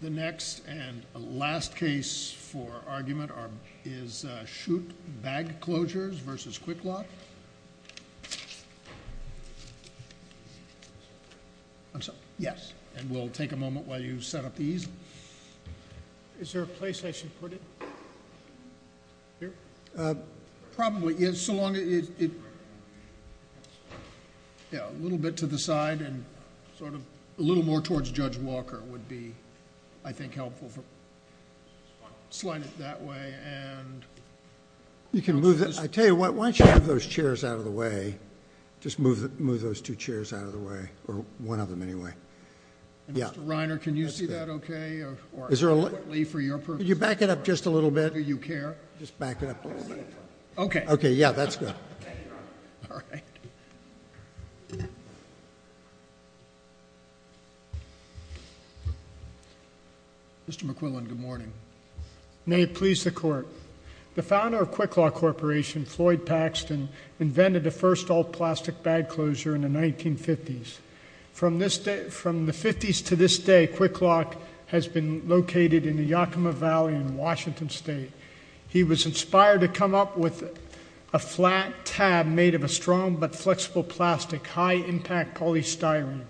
The next and last case for argument is Schutte Bagclosures v. Kwiklop. I'm sorry? Yes. And we'll take a moment while you set up the easel. Is there a place I should put it? Here? Probably, yeah, so long as it's a little bit to the side and sort of a little more towards Judge Walker would be, I think, helpful. Slide it that way and... You can move it. I tell you what, why don't you move those chairs out of the way? Just move those two chairs out of the way, or one of them anyway. Mr. Reiner, can you see that okay, or adequately for your purposes? Could you back it up just a little bit? Do you care? Just back it up a little bit. Okay. Okay, yeah, that's good. All right. Mr. McQuillan, good morning. May it please the Court. The founder of Kwiklop Corporation, Floyd Paxton, invented the first all-plastic bag closure in the 1950s. From the 50s to this day, Kwiklop has been located in the Yakima Valley in Washington State. He was inspired to come up with a flat tab made of a strong but flexible plastic, high-impact polystyrene.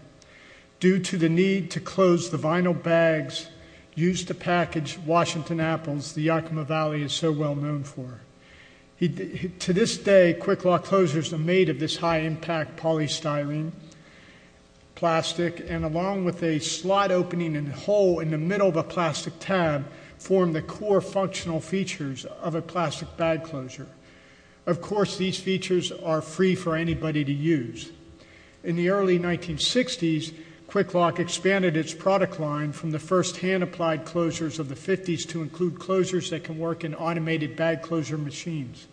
Due to the need to close the vinyl bags used to package Washington apples, the Yakima Valley is so well known for. To this day, Kwiklop closures are made of this high-impact polystyrene plastic, and along with a slot opening and hole in the middle of a plastic tab, form the core functional features of a plastic bag closure. Of course, these features are free for anybody to use. In the early 1960s, Kwiklop expanded its product line from the first-hand applied closures of the 50s to include closures that can work in automated bag closure machines.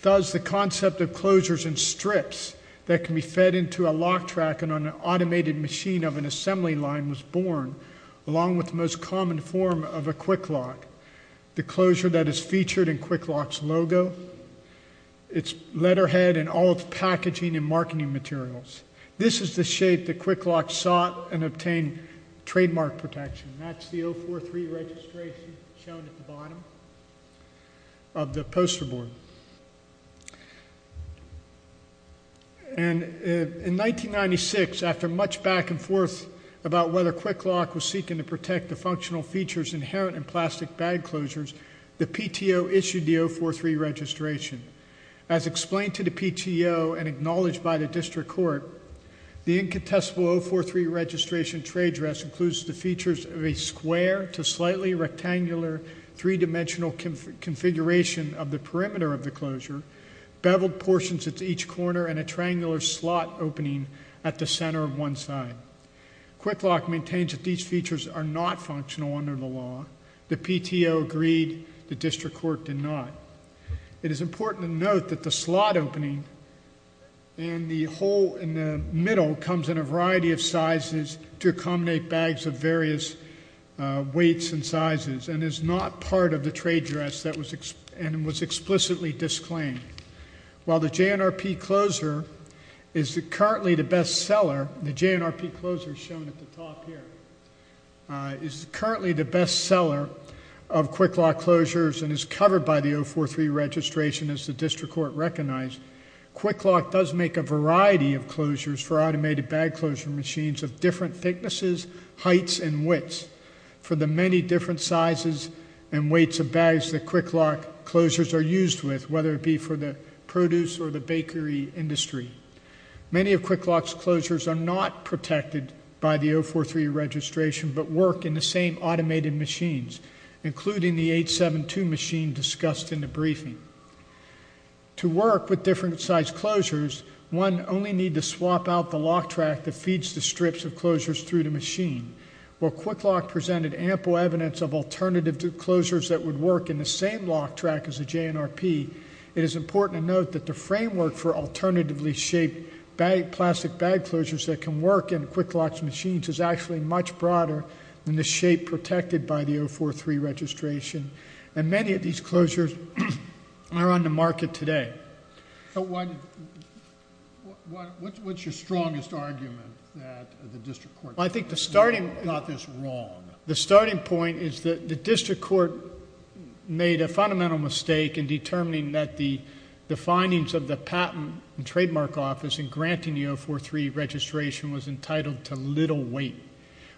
Thus, the concept of closures in strips that can be fed into a lock track on an automated machine of an assembly line was born, along with the most common form of a Kwiklop, the closure that is featured in Kwiklop's logo, its letterhead, and all its packaging and marketing materials. This is the shape that Kwiklop sought and obtained trademark protection, and that's the 043 registration shown at the bottom of the poster board. And in 1996, after much back and forth about whether Kwiklop was seeking to protect the functional features inherent in plastic bag closures, the PTO issued the 043 registration. As explained to the PTO and acknowledged by the district court, the incontestable 043 registration trade dress includes the features of a square to slightly rectangular three-dimensional configuration of the perimeter of the closure, beveled portions at each corner, and a triangular slot opening at the center of one side. Kwiklop maintains that these features are not functional under the law. The PTO agreed. The district court did not. It is important to note that the slot opening in the hole in the middle comes in a variety of sizes to accommodate bags of various weights and sizes and is not part of the trade dress that was explicitly disclaimed. While the JNRP closure is currently the best seller, the JNRP closure shown at the top here is currently the best seller of Kwiklop closures and is covered by the 043 registration, as the district court recognized. Kwiklop does make a variety of closures for automated bag closure machines of different thicknesses, heights, and widths for the many different sizes and weights of bags that Kwiklop closures are used with, whether it be for the produce or the bakery industry. Many of Kwiklop's closures are not protected by the 043 registration but work in the same automated machines, including the 872 machine discussed in the briefing. To work with different size closures, one only need to swap out the lock track that feeds the strips of closures through the machine. While Kwiklop presented ample evidence of alternative closures that would work in the same lock track as the JNRP, it is important to note that the framework for alternatively shaped plastic bag closures that can work in Kwiklop's machines is actually much broader than the shape protected by the 043 registration, and many of these closures are on the market today. What's your strongest argument that the district court got this wrong? The starting point is that the district court made a fundamental mistake in determining that the findings of the patent and trademark office in granting the 043 registration was entitled to little weight,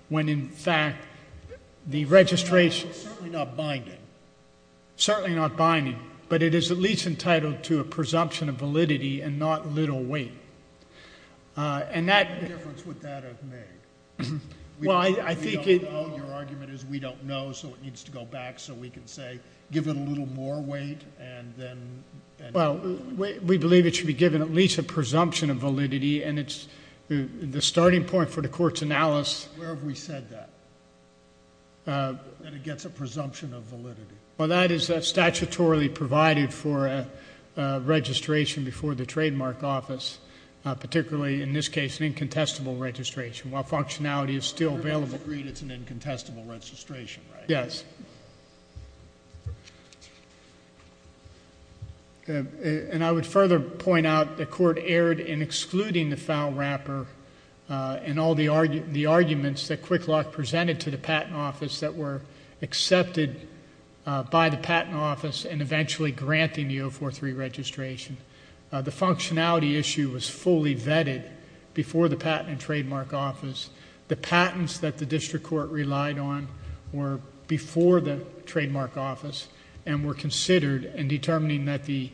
when in fact the registration... It's certainly not binding. Certainly not binding, but it is at least entitled to a presumption of validity and not little weight. What difference would that have made? Your argument is we don't know, so it needs to go back so we can say give it a little more weight and then... Well, we believe it should be given at least a presumption of validity, and the starting point for the court's analysis... Where have we said that, that it gets a presumption of validity? Well, that is statutorily provided for registration before the trademark office, particularly in this case an incontestable registration, while functionality is still available. You've agreed it's an incontestable registration, right? Yes. And I would further point out the court erred in excluding the foul wrapper and all the arguments that Quick Lock presented to the patent office that were accepted by the patent office and eventually granting the 043 registration. The functionality issue was fully vetted before the patent and trademark office. The patents that the district court relied on were before the trademark office and were considered in determining that the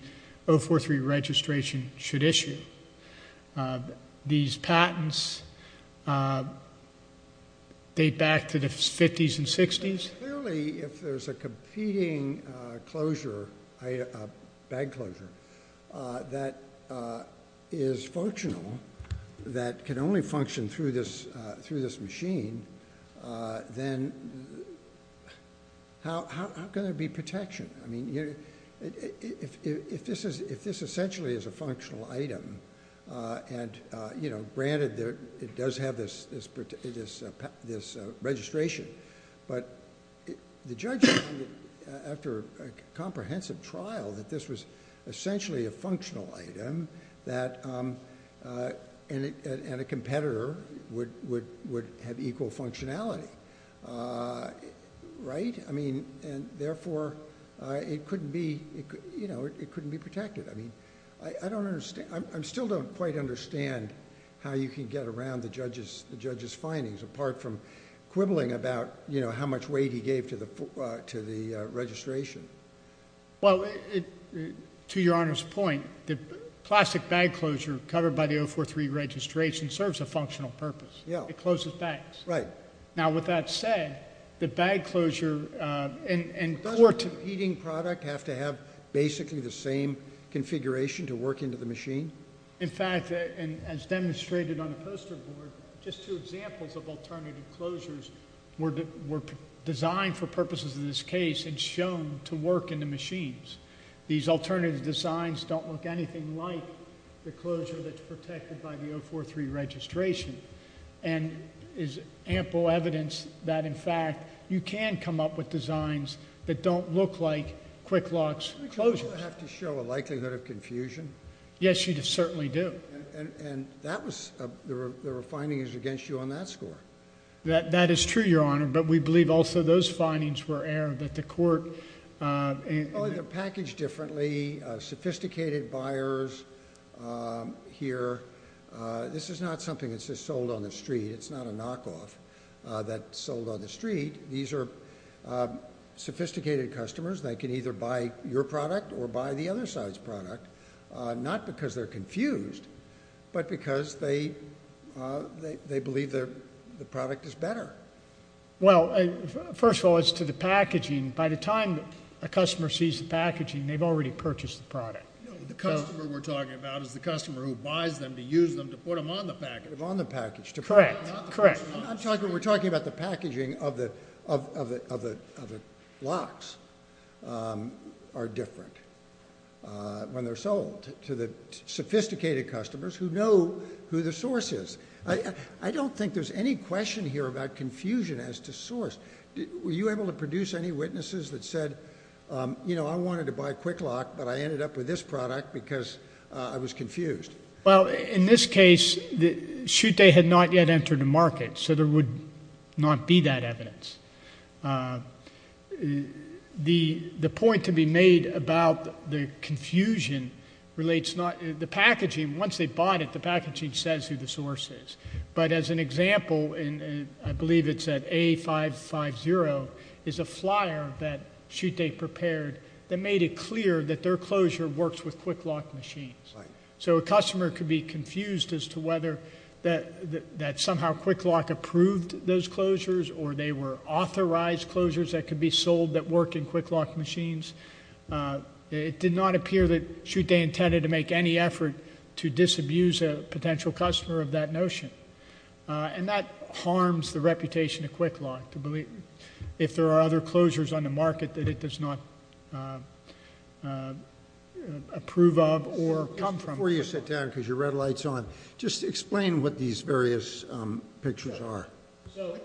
043 registration should issue. These patents date back to the 50s and 60s. Clearly, if there's a competing bag closure that is functional, that can only function through this machine, then how can there be protection? If this essentially is a functional item, and granted it does have this registration, but the judge found after a comprehensive trial that this was essentially a functional item and a competitor would have equal functionality, right? Therefore, it couldn't be protected. I still don't quite understand how you can get around the judge's findings apart from quibbling about how much weight he gave to the registration. Well, to Your Honor's point, the plastic bag closure covered by the 043 registration serves a functional purpose. It closes bags. Right. Now, with that said, the bag closure and court- Doesn't a competing product have to have basically the same configuration to work into the machine? In fact, as demonstrated on the poster board, just two examples of alternative closures were designed for purposes of this case and shown to work in the machines. These alternative designs don't look anything like the closure that's protected by the 043 registration and is ample evidence that, in fact, you can come up with designs that don't look like Kwik-Lox closures. Do I have to show a likelihood of confusion? Yes, you certainly do. And there were findings against you on that score. That is true, Your Honor, but we believe also those findings were aired that the court- Well, they're packaged differently. Sophisticated buyers here. This is not something that's just sold on the street. It's not a knockoff that's sold on the street. These are sophisticated customers. They can either buy your product or buy the other side's product, not because they're confused, but because they believe the product is better. Well, first of all, as to the packaging, by the time a customer sees the packaging, they've already purchased the product. The customer we're talking about is the customer who buys them to use them to put them on the package. On the package. Correct. We're talking about the packaging of the locks are different when they're sold to the sophisticated customers who know who the source is. I don't think there's any question here about confusion as to source. Were you able to produce any witnesses that said, you know, I wanted to buy Kwik-Lox, but I ended up with this product because I was confused? Well, in this case, Chute had not yet entered the market, so there would not be that evidence. The point to be made about the confusion relates not to the packaging. Once they bought it, the packaging says who the source is. But as an example, I believe it's at A550, is a flyer that Chute prepared that made it clear that their closure works with Kwik-Lox machines. So a customer could be confused as to whether that somehow Kwik-Lox approved those closures or they were authorized closures that could be sold that work in Kwik-Lox machines. It did not appear that Chute intended to make any effort to disabuse a potential customer of that notion. And that harms the reputation of Kwik-Lox, if there are other closures on the market that it does not approve of or come from. Before you sit down, because your red light's on, just explain what these various pictures are.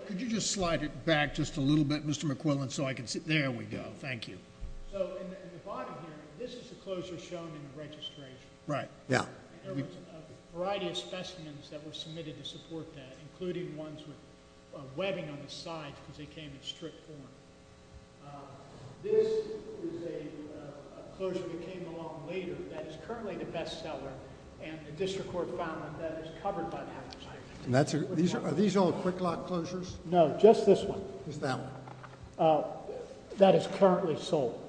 Could you just slide it back just a little bit, Mr. McQuillan, so I can see? There we go. Thank you. So in the bottom here, this is the closure shown in the registration. There was a variety of specimens that were submitted to support that, including ones with webbing on the sides because they came in strict form. This is a closure that came along later that is currently the bestseller, and the district court found that that is covered by the half of the site. Are these all Kwik-Lox closures? No, just this one. Just that one? That is currently sold.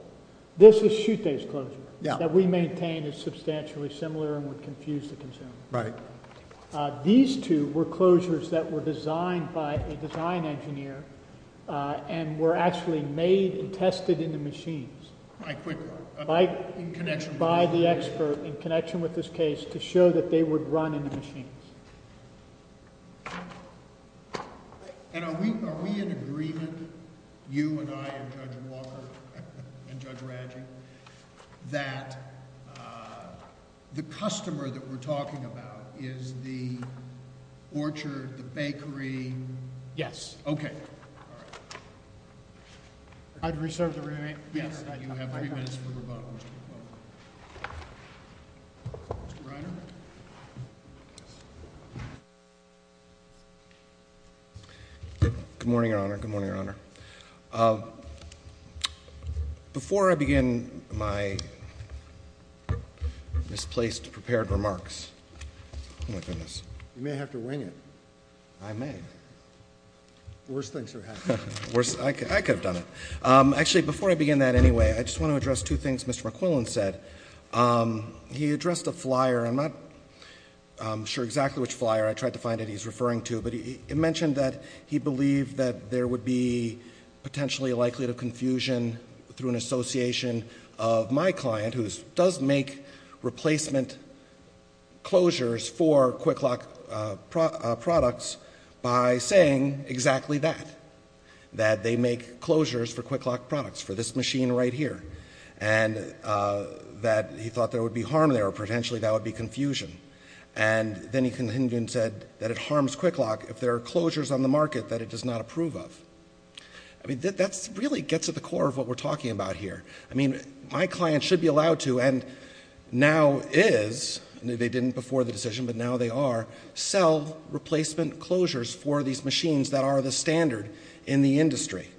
This is Chute's closure that we maintain is substantially similar and would confuse the consumer. Right. These two were closures that were designed by a design engineer and were actually made and tested in the machines... By Kwik-Lox.... by the expert in connection with this case to show that they would run in the machines. Are we in agreement, you and I and Judge Walker and Judge Radjic, that the customer that we're talking about is the orchard, the bakery? Yes. Okay. All right. I'd reserve the remaining... Yes. You have three minutes for rebuttal, Mr. McClellan. Mr. Reiner? Good morning, Your Honor. Good morning, Your Honor. Before I begin my misplaced prepared remarks... Oh, my goodness. You may have to wing it. I may. The worst things are happening. I could have done it. Actually, before I begin that anyway, I just want to address two things Mr. McClellan said. He addressed a flyer. I'm not sure exactly which flyer. I tried to find it he's referring to. But it mentioned that he believed that there would be potentially a likelihood of confusion through an association of my client, who does make replacement closures for Kwik-Lok products by saying exactly that, that they make closures for Kwik-Lok products, for this machine right here, and that he thought there would be harm there or potentially that would be confusion. And then he said that it harms Kwik-Lok if there are closures on the market that it does not approve of. I mean, that really gets at the core of what we're talking about here. I mean, my client should be allowed to and now is. They didn't before the decision, but now they are, sell replacement closures for these machines that are the standard in the industry.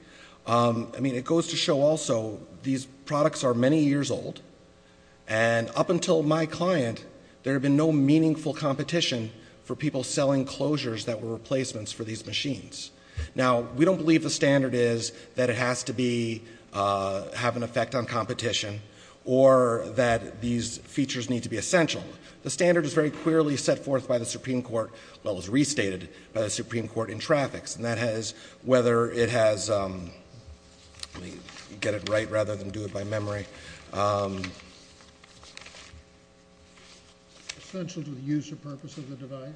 I mean, it goes to show also these products are many years old, and up until my client, there had been no meaningful competition for people selling closures that were replacements for these machines. Now, we don't believe the standard is that it has to have an effect on competition or that these features need to be essential. The standard is very clearly set forth by the Supreme Court, well, it was restated by the Supreme Court in traffics. And that has, whether it has, let me get it right rather than do it by memory. Essential to the use or purpose of the device?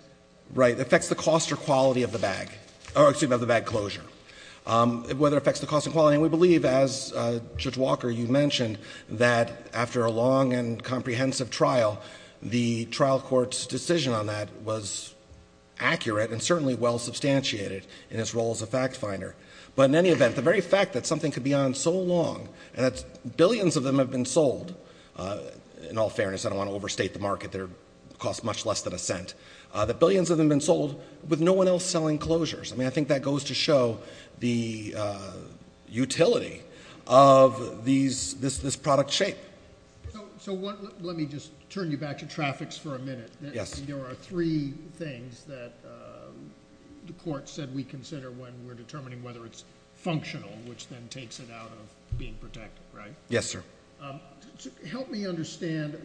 Right. It affects the cost or quality of the bag, or excuse me, of the bag closure. Whether it affects the cost and quality. And we believe, as Judge Walker, you mentioned, that after a long and comprehensive trial, the trial court's decision on that was accurate and certainly well substantiated in its role as a fact finder. But in any event, the very fact that something could be on so long, and that billions of them have been sold, in all fairness, I don't want to overstate the market, they cost much less than a cent, that billions of them have been sold with no one else selling closures. I mean, I think that goes to show the utility of this product shape. So let me just turn you back to traffics for a minute. Yes. There are three things that the court said we consider when we're determining whether it's functional, which then takes it out of being protected, right? Yes, sir. Help me understand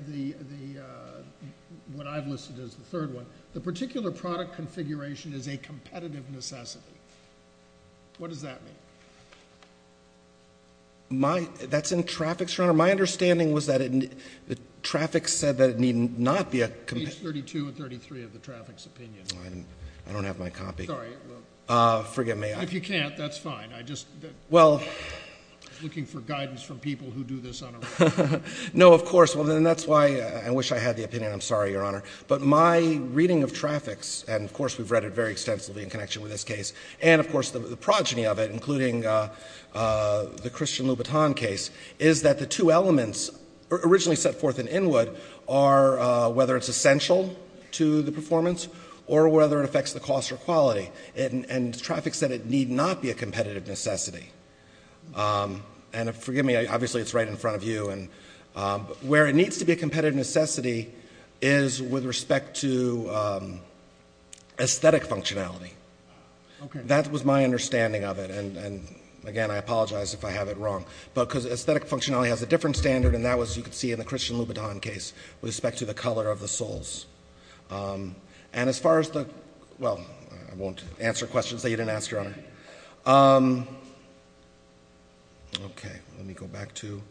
what I've listed as the third one. The particular product configuration is a competitive necessity. What does that mean? That's in traffics, Your Honor. My understanding was that traffics said that it need not be a competitive necessity. Page 32 and 33 of the traffics opinion. I don't have my copy. Sorry. Forgive me. If you can't, that's fine. I'm just looking for guidance from people who do this on a regular basis. No, of course. And that's why I wish I had the opinion. I'm sorry, Your Honor. But my reading of traffics, and, of course, we've read it very extensively in connection with this case, and, of course, the progeny of it, including the Christian Louboutin case, is that the two elements originally set forth in Inwood are whether it's essential to the performance or whether it affects the cost or quality. And traffics said it need not be a competitive necessity. And forgive me. Obviously, it's right in front of you. Where it needs to be a competitive necessity is with respect to aesthetic functionality. That was my understanding of it. And, again, I apologize if I have it wrong. Because aesthetic functionality has a different standard, and that was, as you can see, in the Christian Louboutin case with respect to the color of the souls. And as far as the – well, I won't answer questions that you didn't ask, Your Honor. Okay. Let me go back to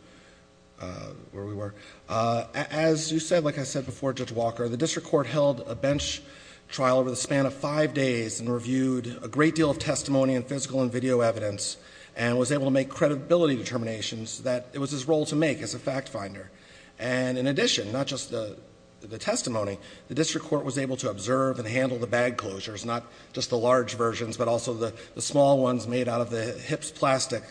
where we were. As you said, like I said before, Judge Walker, the district court held a bench trial over the span of five days and reviewed a great deal of testimony and physical and video evidence and was able to make credibility determinations that it was his role to make as a fact finder. And, in addition, not just the testimony, the district court was able to observe and handle the bag closures, not just the large versions, but also the small ones made out of the HIPS plastic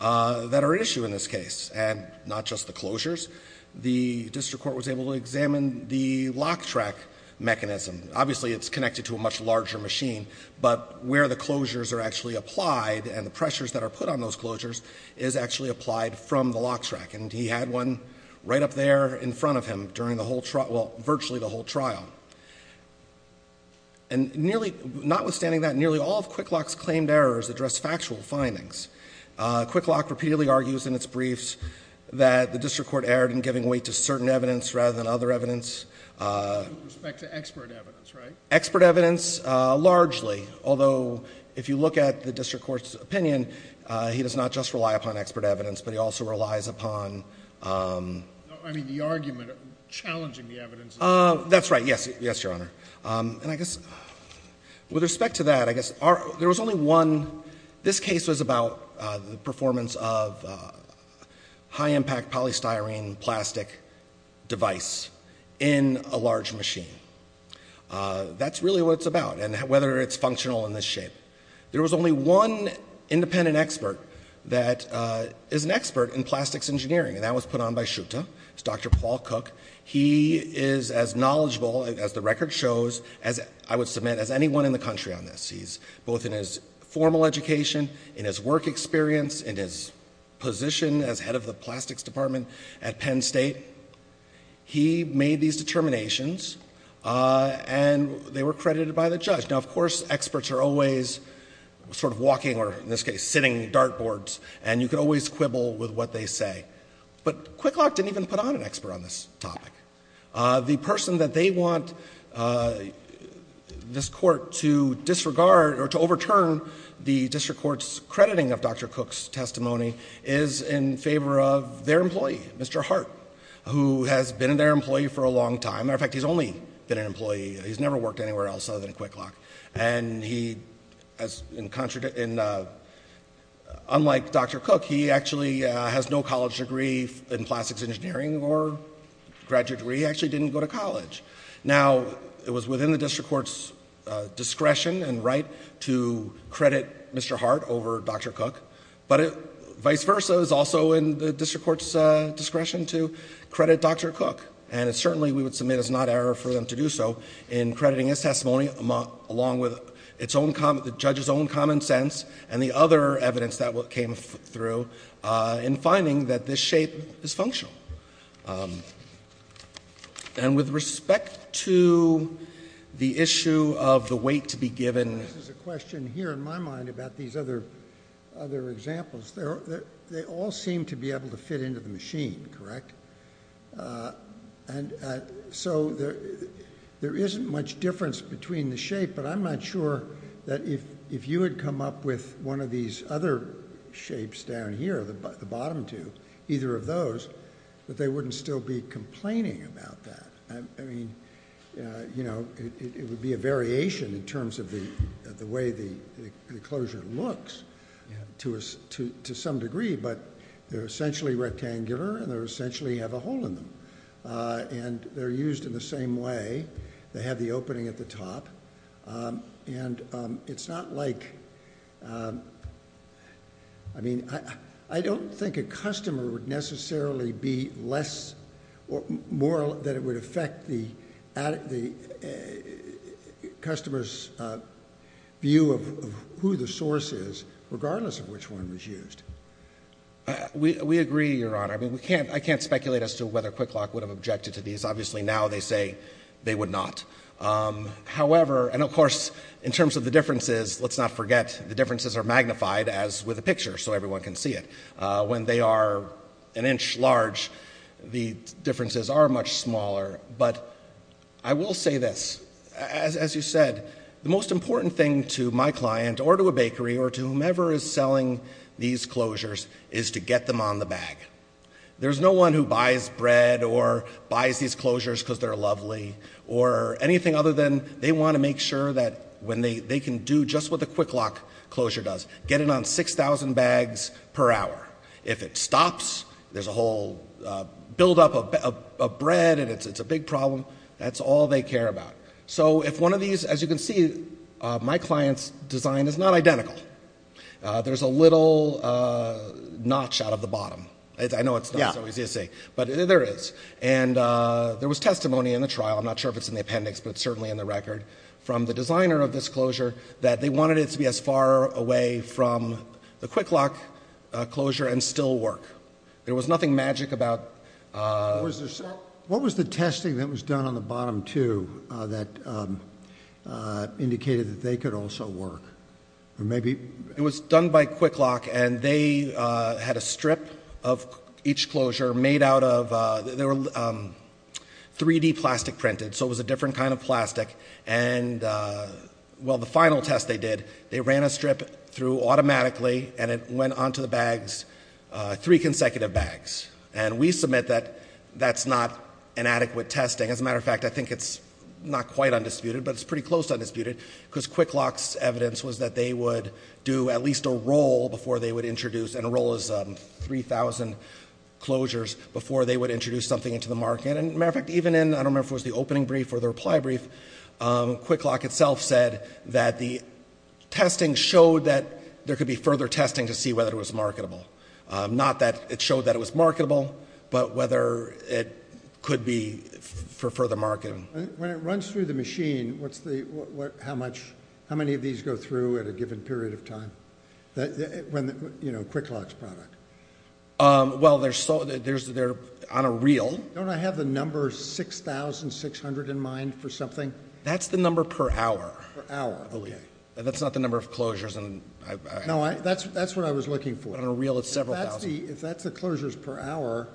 that are at issue in this case, and not just the closures. The district court was able to examine the lock track mechanism. Obviously, it's connected to a much larger machine, but where the closures are actually applied and the pressures that are put on those closures is actually applied from the lock track. And he had one right up there in front of him during the whole – well, virtually the whole trial. And nearly – notwithstanding that, nearly all of QuickLock's claimed errors address factual findings. QuickLock repeatedly argues in its briefs that the district court erred in giving weight to certain evidence rather than other evidence. With respect to expert evidence, right? Expert evidence largely, although if you look at the district court's opinion, he does not just rely upon expert evidence, but he also relies upon – I mean, the argument challenging the evidence. That's right. Yes, Your Honor. And I guess with respect to that, I guess there was only one – this case was about the performance of high-impact polystyrene plastic device in a large machine. That's really what it's about, and whether it's functional in this shape. There was only one independent expert that is an expert in plastics engineering, and that was put on by Schutte. It's Dr. Paul Cook. He is as knowledgeable, as the record shows, I would submit, as anyone in the country on this. He's both in his formal education, in his work experience, in his position as head of the plastics department at Penn State. He made these determinations, and they were credited by the judge. Now, of course, experts are always sort of walking, or in this case, sitting dartboards, and you can always quibble with what they say. But Quick Lock didn't even put on an expert on this topic. The person that they want this court to disregard or to overturn the district court's crediting of Dr. Cook's testimony is in favor of their employee, Mr. Hart, who has been their employee for a long time. As a matter of fact, he's only been an employee. He's never worked anywhere else other than Quick Lock. Unlike Dr. Cook, he actually has no college degree in plastics engineering or graduate degree. He actually didn't go to college. Now, it was within the district court's discretion and right to credit Mr. Hart over Dr. Cook, but vice versa is also in the district court's discretion to credit Dr. Cook. And certainly we would submit as not error for them to do so in crediting his testimony along with the judge's own common sense and the other evidence that came through in finding that this shape is functional. And with respect to the issue of the weight to be given... This is a question here in my mind about these other examples. They all seem to be able to fit into the machine, correct? And so there isn't much difference between the shape, but I'm not sure that if you had come up with one of these other shapes down here, the bottom two, either of those, that they wouldn't still be complaining about that. I mean, you know, it would be a variation in terms of the way the closure looks to some degree, but they're essentially rectangular and they essentially have a hole in them. And they're used in the same way. They have the opening at the top. And it's not like... I mean, I don't think a customer would necessarily be less or more that it would affect the customer's view of who the source is, regardless of which one was used. We agree, Your Honor. I mean, I can't speculate as to whether Quick Lock would have objected to these. Obviously, now they say they would not. However, and of course, in terms of the differences, let's not forget the differences are magnified, as with the picture, so everyone can see it. When they are an inch large, the differences are much smaller. But I will say this. As you said, the most important thing to my client or to a bakery or to whomever is selling these closures is to get them on the bag. There's no one who buys bread or buys these closures because they're lovely or anything other than they want to make sure that they can do just what the Quick Lock closure does, get it on 6,000 bags per hour. If it stops, there's a whole buildup of bread and it's a big problem. That's all they care about. So if one of these, as you can see, my client's design is not identical. There's a little notch out of the bottom. I know it's not so easy to see, but there is. And there was testimony in the trial. I'm not sure if it's in the appendix, but it's certainly in the record, from the designer of this closure that they wanted it to be as far away from the Quick Lock closure and still work. There was nothing magic about it. What was the testing that was done on the bottom two that indicated that they could also work? It was done by Quick Lock, and they had a strip of each closure made out of 3D plastic printed. So it was a different kind of plastic. And, well, the final test they did, they ran a strip through automatically, and it went onto the bags, three consecutive bags. And we submit that that's not an adequate testing. As a matter of fact, I think it's not quite undisputed, but it's pretty close to undisputed, because Quick Lock's evidence was that they would do at least a roll before they would introduce, and a roll is 3,000 closures, before they would introduce something into the market. And, as a matter of fact, even in, I don't remember if it was the opening brief or the reply brief, Quick Lock itself said that the testing showed that there could be further testing to see whether it was marketable. Not that it showed that it was marketable, but whether it could be for further marketing. When it runs through the machine, how many of these go through at a given period of time, Quick Lock's product? Well, they're on a reel. Don't I have the number 6,600 in mind for something? That's the number per hour. Per hour, okay. That's not the number of closures. No, that's what I was looking for. On a reel, it's several thousand. If that's the closures per hour,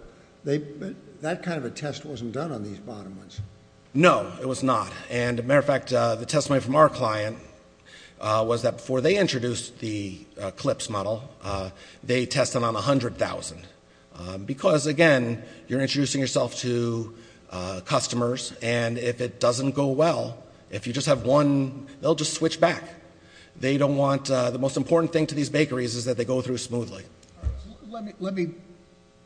that kind of a test wasn't done on these bottom ones. No, it was not. And, as a matter of fact, the testimony from our client was that before they introduced the CLPS model, they tested on 100,000. Because, again, you're introducing yourself to customers, and if it doesn't go well, if you just have one, they'll just switch back. They don't want the most important thing to these bakeries is that they go through smoothly. Let me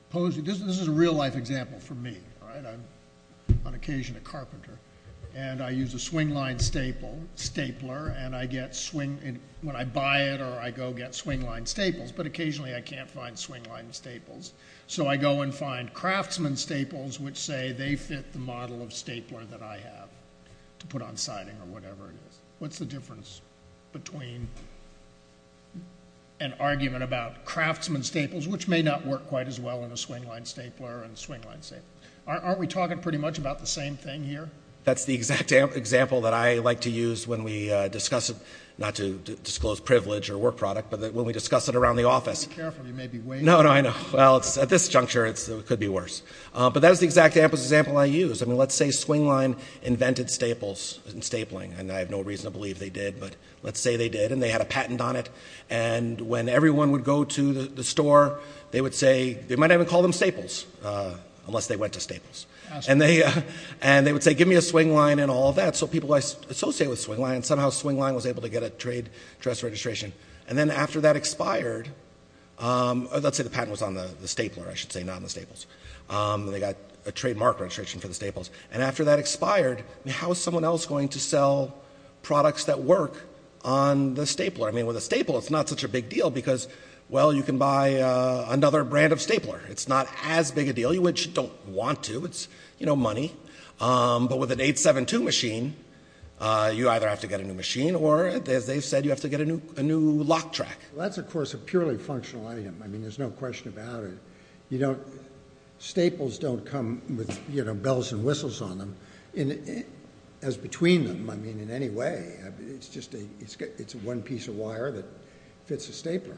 pose you. This is a real-life example for me. I'm on occasion a carpenter, and I use a swingline stapler, and when I buy it or I go get swingline staples, but occasionally I can't find swingline staples. So I go and find craftsman staples, which say they fit the model of stapler that I have to put on siding or whatever it is. What's the difference between an argument about craftsman staples, which may not work quite as well in a swingline stapler and swingline staples? Aren't we talking pretty much about the same thing here? That's the exact example that I like to use when we discuss it, not to disclose privilege or work product, but when we discuss it around the office. Be careful. You may be waving. No, no, I know. Well, at this juncture, it could be worse. But that was the exact example I used. I mean, let's say swingline invented staples and stapling, and I have no reason to believe they did, but let's say they did and they had a patent on it, and when everyone would go to the store, and they would say, give me a swingline and all that, so people would associate with swingline, and somehow swingline was able to get a trade dress registration. And then after that expired, let's say the patent was on the stapler, I should say, not on the staples. They got a trademark registration for the staples. And after that expired, how is someone else going to sell products that work on the stapler? I mean, with a staple, it's not such a big deal because, well, you can buy another brand of stapler. It's not as big a deal, which you don't want to. It's, you know, money. But with an 872 machine, you either have to get a new machine or, as they've said, you have to get a new lock track. Well, that's, of course, a purely functional item. I mean, there's no question about it. You know, staples don't come with, you know, bells and whistles on them, as between them, I mean, in any way. It's just a one piece of wire that fits a stapler.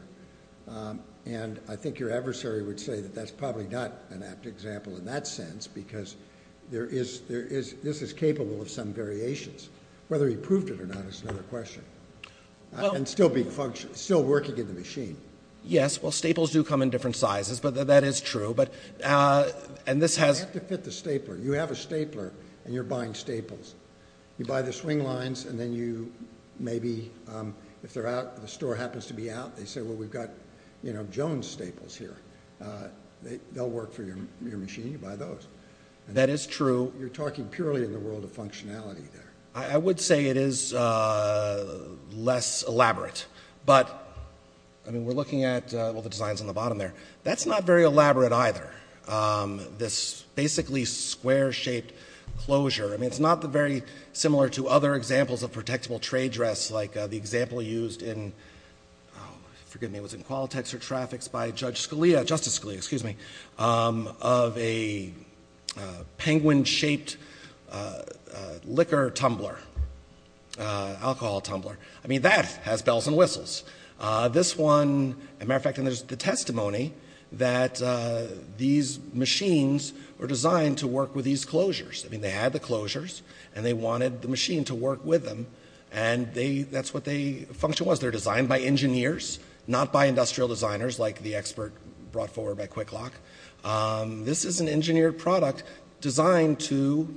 And I think your adversary would say that that's probably not an apt example in that sense because this is capable of some variations. Whether he proved it or not is another question. And still working in the machine. Yes, well, staples do come in different sizes, but that is true. You have to fit the stapler. You have a stapler, and you're buying staples. You buy the swing lines, and then you maybe, if the store happens to be out, they say, well, we've got, you know, Jones staples here. They'll work for your machine. You buy those. That is true. You're talking purely in the world of functionality there. I would say it is less elaborate. But, I mean, we're looking at all the designs on the bottom there. That's not very elaborate either, this basically square-shaped closure. I mean, it's not very similar to other examples of protectable trade dress, like the example used in, forgive me, it was in Qualtex or Traffix by Judge Scalia, Justice Scalia, excuse me, of a penguin-shaped liquor tumbler, alcohol tumbler. I mean, that has bells and whistles. This one, as a matter of fact, there's the testimony that these machines were designed to work with these closures. I mean, they had the closures, and they wanted the machine to work with them, and that's what the function was. They're designed by engineers, not by industrial designers like the expert brought forward by QuickLock. This is an engineered product designed to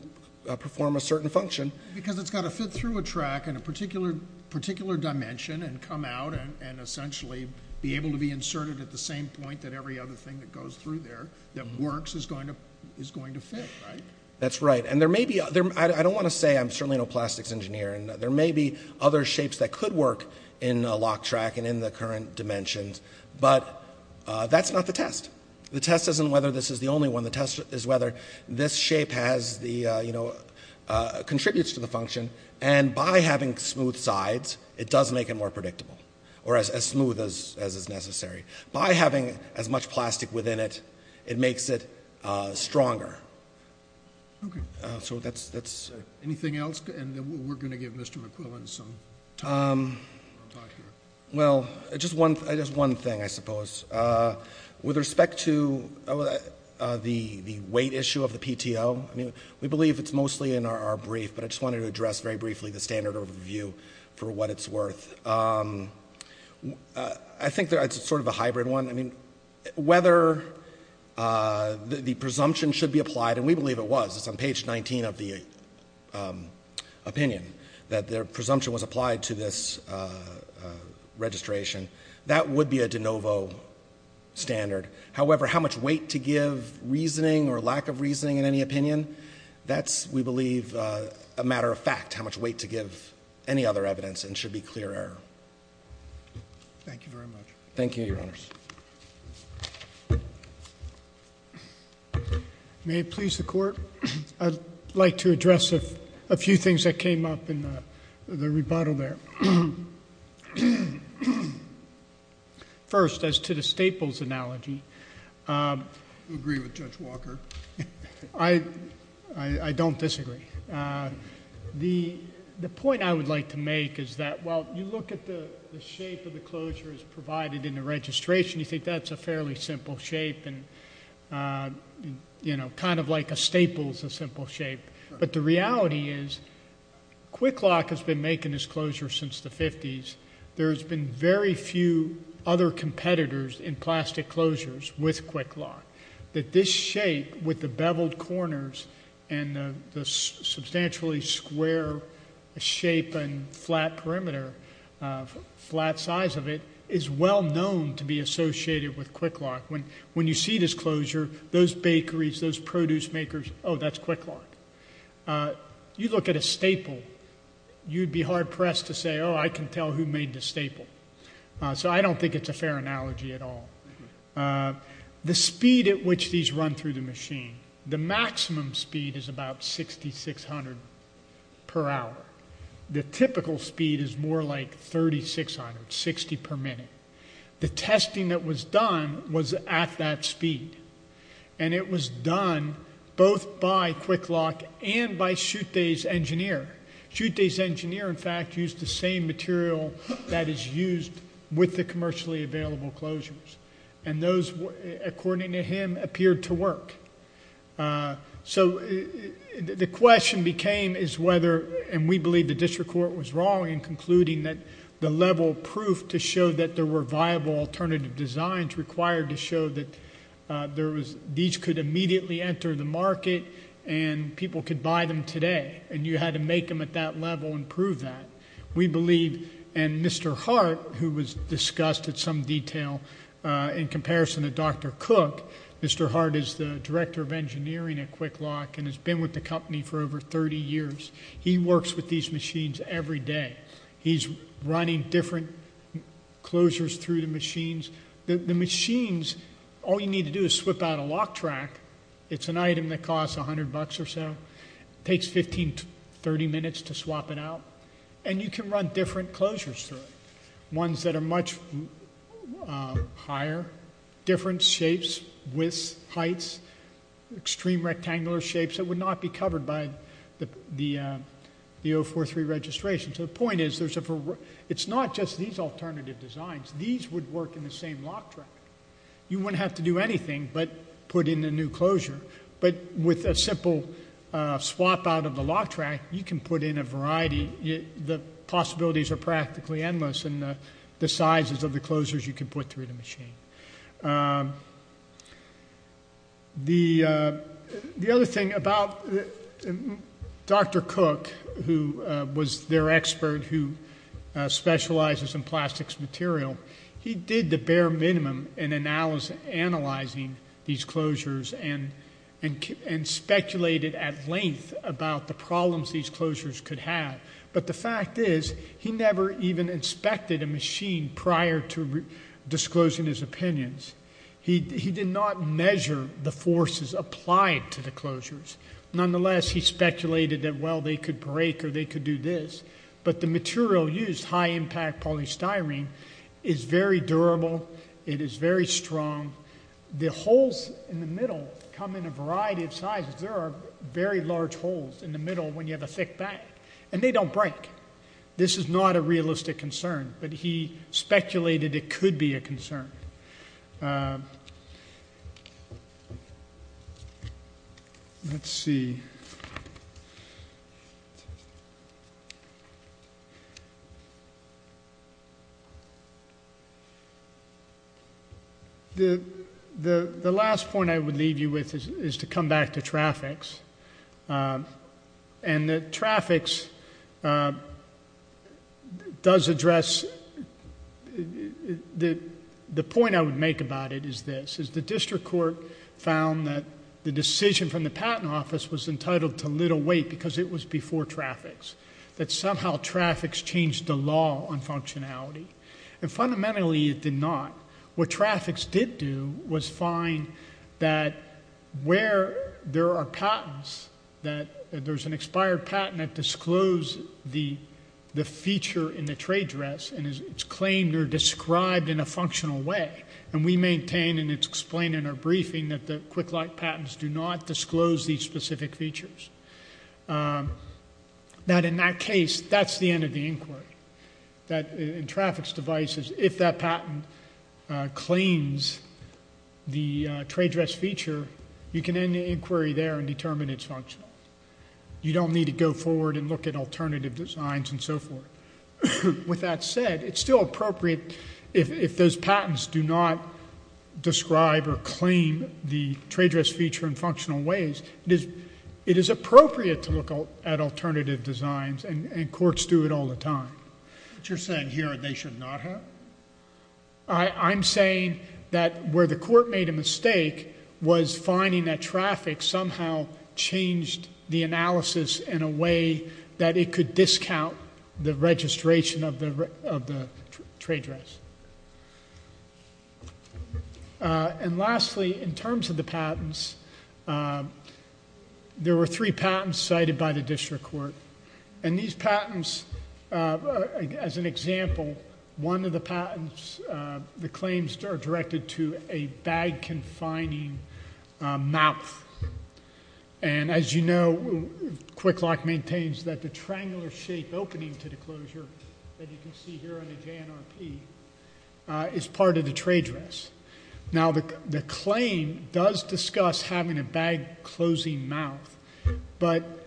perform a certain function. Because it's got to fit through a track in a particular dimension and come out and essentially be able to be inserted at the same point that every other thing that goes through there that works is going to fit, right? That's right. And there may be other, I don't want to say I'm certainly no plastics engineer, and there may be other shapes that could work in a lock track and in the current dimensions, but that's not the test. The test isn't whether this is the only one. The test is whether this shape has the, you know, contributes to the function, and by having smooth sides, it does make it more predictable, or as smooth as is necessary. By having as much plastic within it, it makes it stronger. Okay. So that's... Anything else, and then we're going to give Mr. McQuillan some time to talk here. Well, just one thing, I suppose. With respect to the weight issue of the PTO, I mean, we believe it's mostly in our brief, but I just wanted to address very briefly the standard overview for what it's worth. I think it's sort of a hybrid one. I mean, whether the presumption should be applied, and we believe it was. It's on page 19 of the opinion that the presumption was applied to this registration. That would be a de novo standard. However, how much weight to give reasoning or lack of reasoning in any opinion, that's, we believe, a matter of fact, how much weight to give any other evidence and should be clear error. Thank you very much. Thank you, Your Honors. May it please the Court? I'd like to address a few things that came up in the rebuttal there. First, as to the Staples analogy. Do you agree with Judge Walker? I don't disagree. The point I would like to make is that, while you look at the shape of the closures provided in the registration, you think that's a fairly simple shape and, you know, kind of like a Staples, a simple shape. But the reality is, QuickLock has been making this closure since the 50s. There's been very few other competitors in plastic closures with QuickLock. That this shape with the beveled corners and the substantially square shape and flat perimeter, flat size of it, is well known to be associated with QuickLock. When you see this closure, those bakeries, those produce makers, oh, that's QuickLock. You look at a Staple, you'd be hard pressed to say, oh, I can tell who made the Staple. So I don't think it's a fair analogy at all. The speed at which these run through the machine, the maximum speed is about 6,600 per hour. The typical speed is more like 3,600, 60 per minute. The testing that was done was at that speed. And it was done both by QuickLock and by Schutte's engineer. Schutte's engineer, in fact, used the same material that is used with the commercially available closures. And those, according to him, appeared to work. So the question became is whether, and we believe the district court was wrong in concluding that the level of proof to show that there were viable alternative designs required to show that these could immediately enter the market and people could buy them today and you had to make them at that level and prove that. We believe, and Mr. Hart, who was discussed at some detail in comparison to Dr. Cook, Mr. Hart is the director of engineering at QuickLock and has been with the company for over 30 years. He works with these machines every day. He's running different closures through the machines. The machines, all you need to do is swipe out a lock track. It's an item that costs $100 or so. It takes 15 to 30 minutes to swap it out, and you can run different closures through it, ones that are much higher, different shapes, widths, heights, extreme rectangular shapes that would not be covered by the 043 registration. So the point is it's not just these alternative designs. These would work in the same lock track. You wouldn't have to do anything but put in a new closure, but with a simple swap out of the lock track, you can put in a variety. The possibilities are practically endless in the sizes of the closures you can put through the machine. The other thing about Dr. Cook, who was their expert who specializes in plastics material, he did the bare minimum in analyzing these closures and speculated at length about the problems these closures could have, but the fact is he never even inspected a machine prior to disclosing his opinions. He did not measure the forces applied to the closures. Nonetheless, he speculated that, well, they could break or they could do this, but the material used, high-impact polystyrene, is very durable. It is very strong. The holes in the middle come in a variety of sizes. There are very large holes in the middle when you have a thick bag, and they don't break. This is not a realistic concern, but he speculated it could be a concern. Let's see. The last point I would leave you with is to come back to traffics, and the traffics does address the point I would make about it is this. The district court found that the decision from the patent office was entitled to little weight because it was before traffics, that somehow traffics changed the law on functionality. Fundamentally, it did not. What traffics did do was find that where there are patents, that there's an expired patent that disclosed the feature in the trade dress and it's claimed or described in a functional way, and we maintain and it's explained in our briefing that the quick-light patents do not disclose these specific features. Now, in that case, that's the end of the inquiry. In traffics devices, if that patent claims the trade dress feature, you can end the inquiry there and determine it's functional. You don't need to go forward and look at alternative designs and so forth. With that said, it's still appropriate if those patents do not describe or claim the trade dress feature in functional ways. It is appropriate to look at alternative designs and courts do it all the time. But you're saying here they should not have? I'm saying that where the court made a mistake was finding that traffic somehow changed the analysis in a way that it could discount the registration of the trade dress. And lastly, in terms of the patents, there were three patents cited by the district court. And these patents, as an example, one of the patents, the claims are directed to a bag-confining mouth. And as you know, Quick Lock maintains that the triangular shape opening to the closure that you can see here on the JNRP is part of the trade dress. Now, the claim does discuss having a bag-closing mouth, but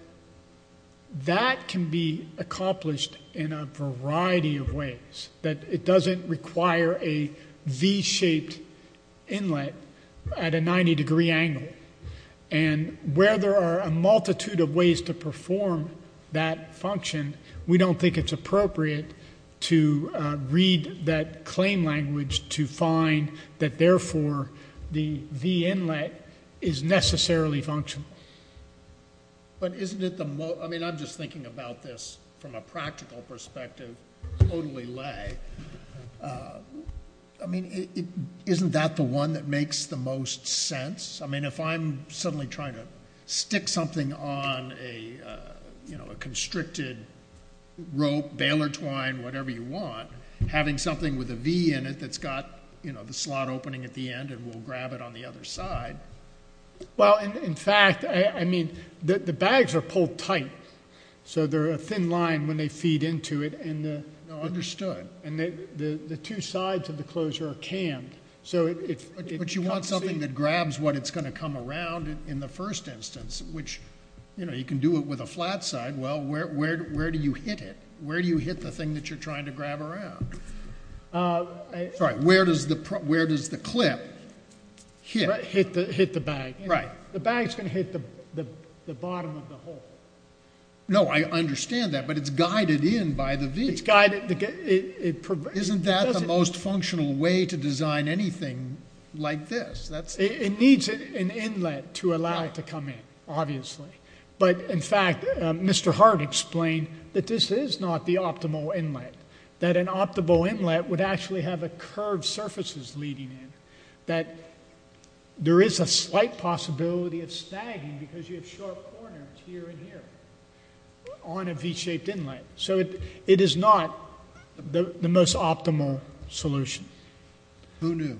that can be accomplished in a variety of ways. It doesn't require a V-shaped inlet at a 90-degree angle. And where there are a multitude of ways to perform that function, we don't think it's appropriate to read that claim language to find that, therefore, the V inlet is necessarily functional. But isn't it the most? I mean, I'm just thinking about this from a practical perspective, totally lay. I mean, isn't that the one that makes the most sense? I mean, if I'm suddenly trying to stick something on a constricted rope, baler twine, whatever you want, having something with a V in it that's got the slot opening at the end and will grab it on the other side. Well, in fact, I mean, the bags are pulled tight, so they're a thin line when they feed into it. And the two sides of the closure are canned. But you want something that grabs what it's going to come around in the first instance, which, you know, you can do it with a flat side. Well, where do you hit it? Where do you hit the thing that you're trying to grab around? Sorry, where does the clip hit? Hit the bag. Right. The bag's going to hit the bottom of the hole. No, I understand that, but it's guided in by the V. Isn't that the most functional way to design anything like this? It needs an inlet to allow it to come in, obviously. But, in fact, Mr. Hart explained that this is not the optimal inlet, that an optimal inlet would actually have curved surfaces leading in, that there is a slight possibility of stagging because you have short corners here and here on a V-shaped inlet. So it is not the most optimal solution. Who knew?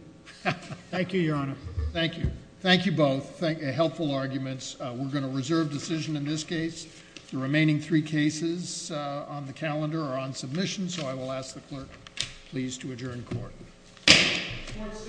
Thank you, Your Honor. Thank you. Thank you both. Helpful arguments. We're going to reserve decision in this case. The remaining three cases on the calendar are on submission, so I will ask the clerk please to adjourn court. Court is adjourned.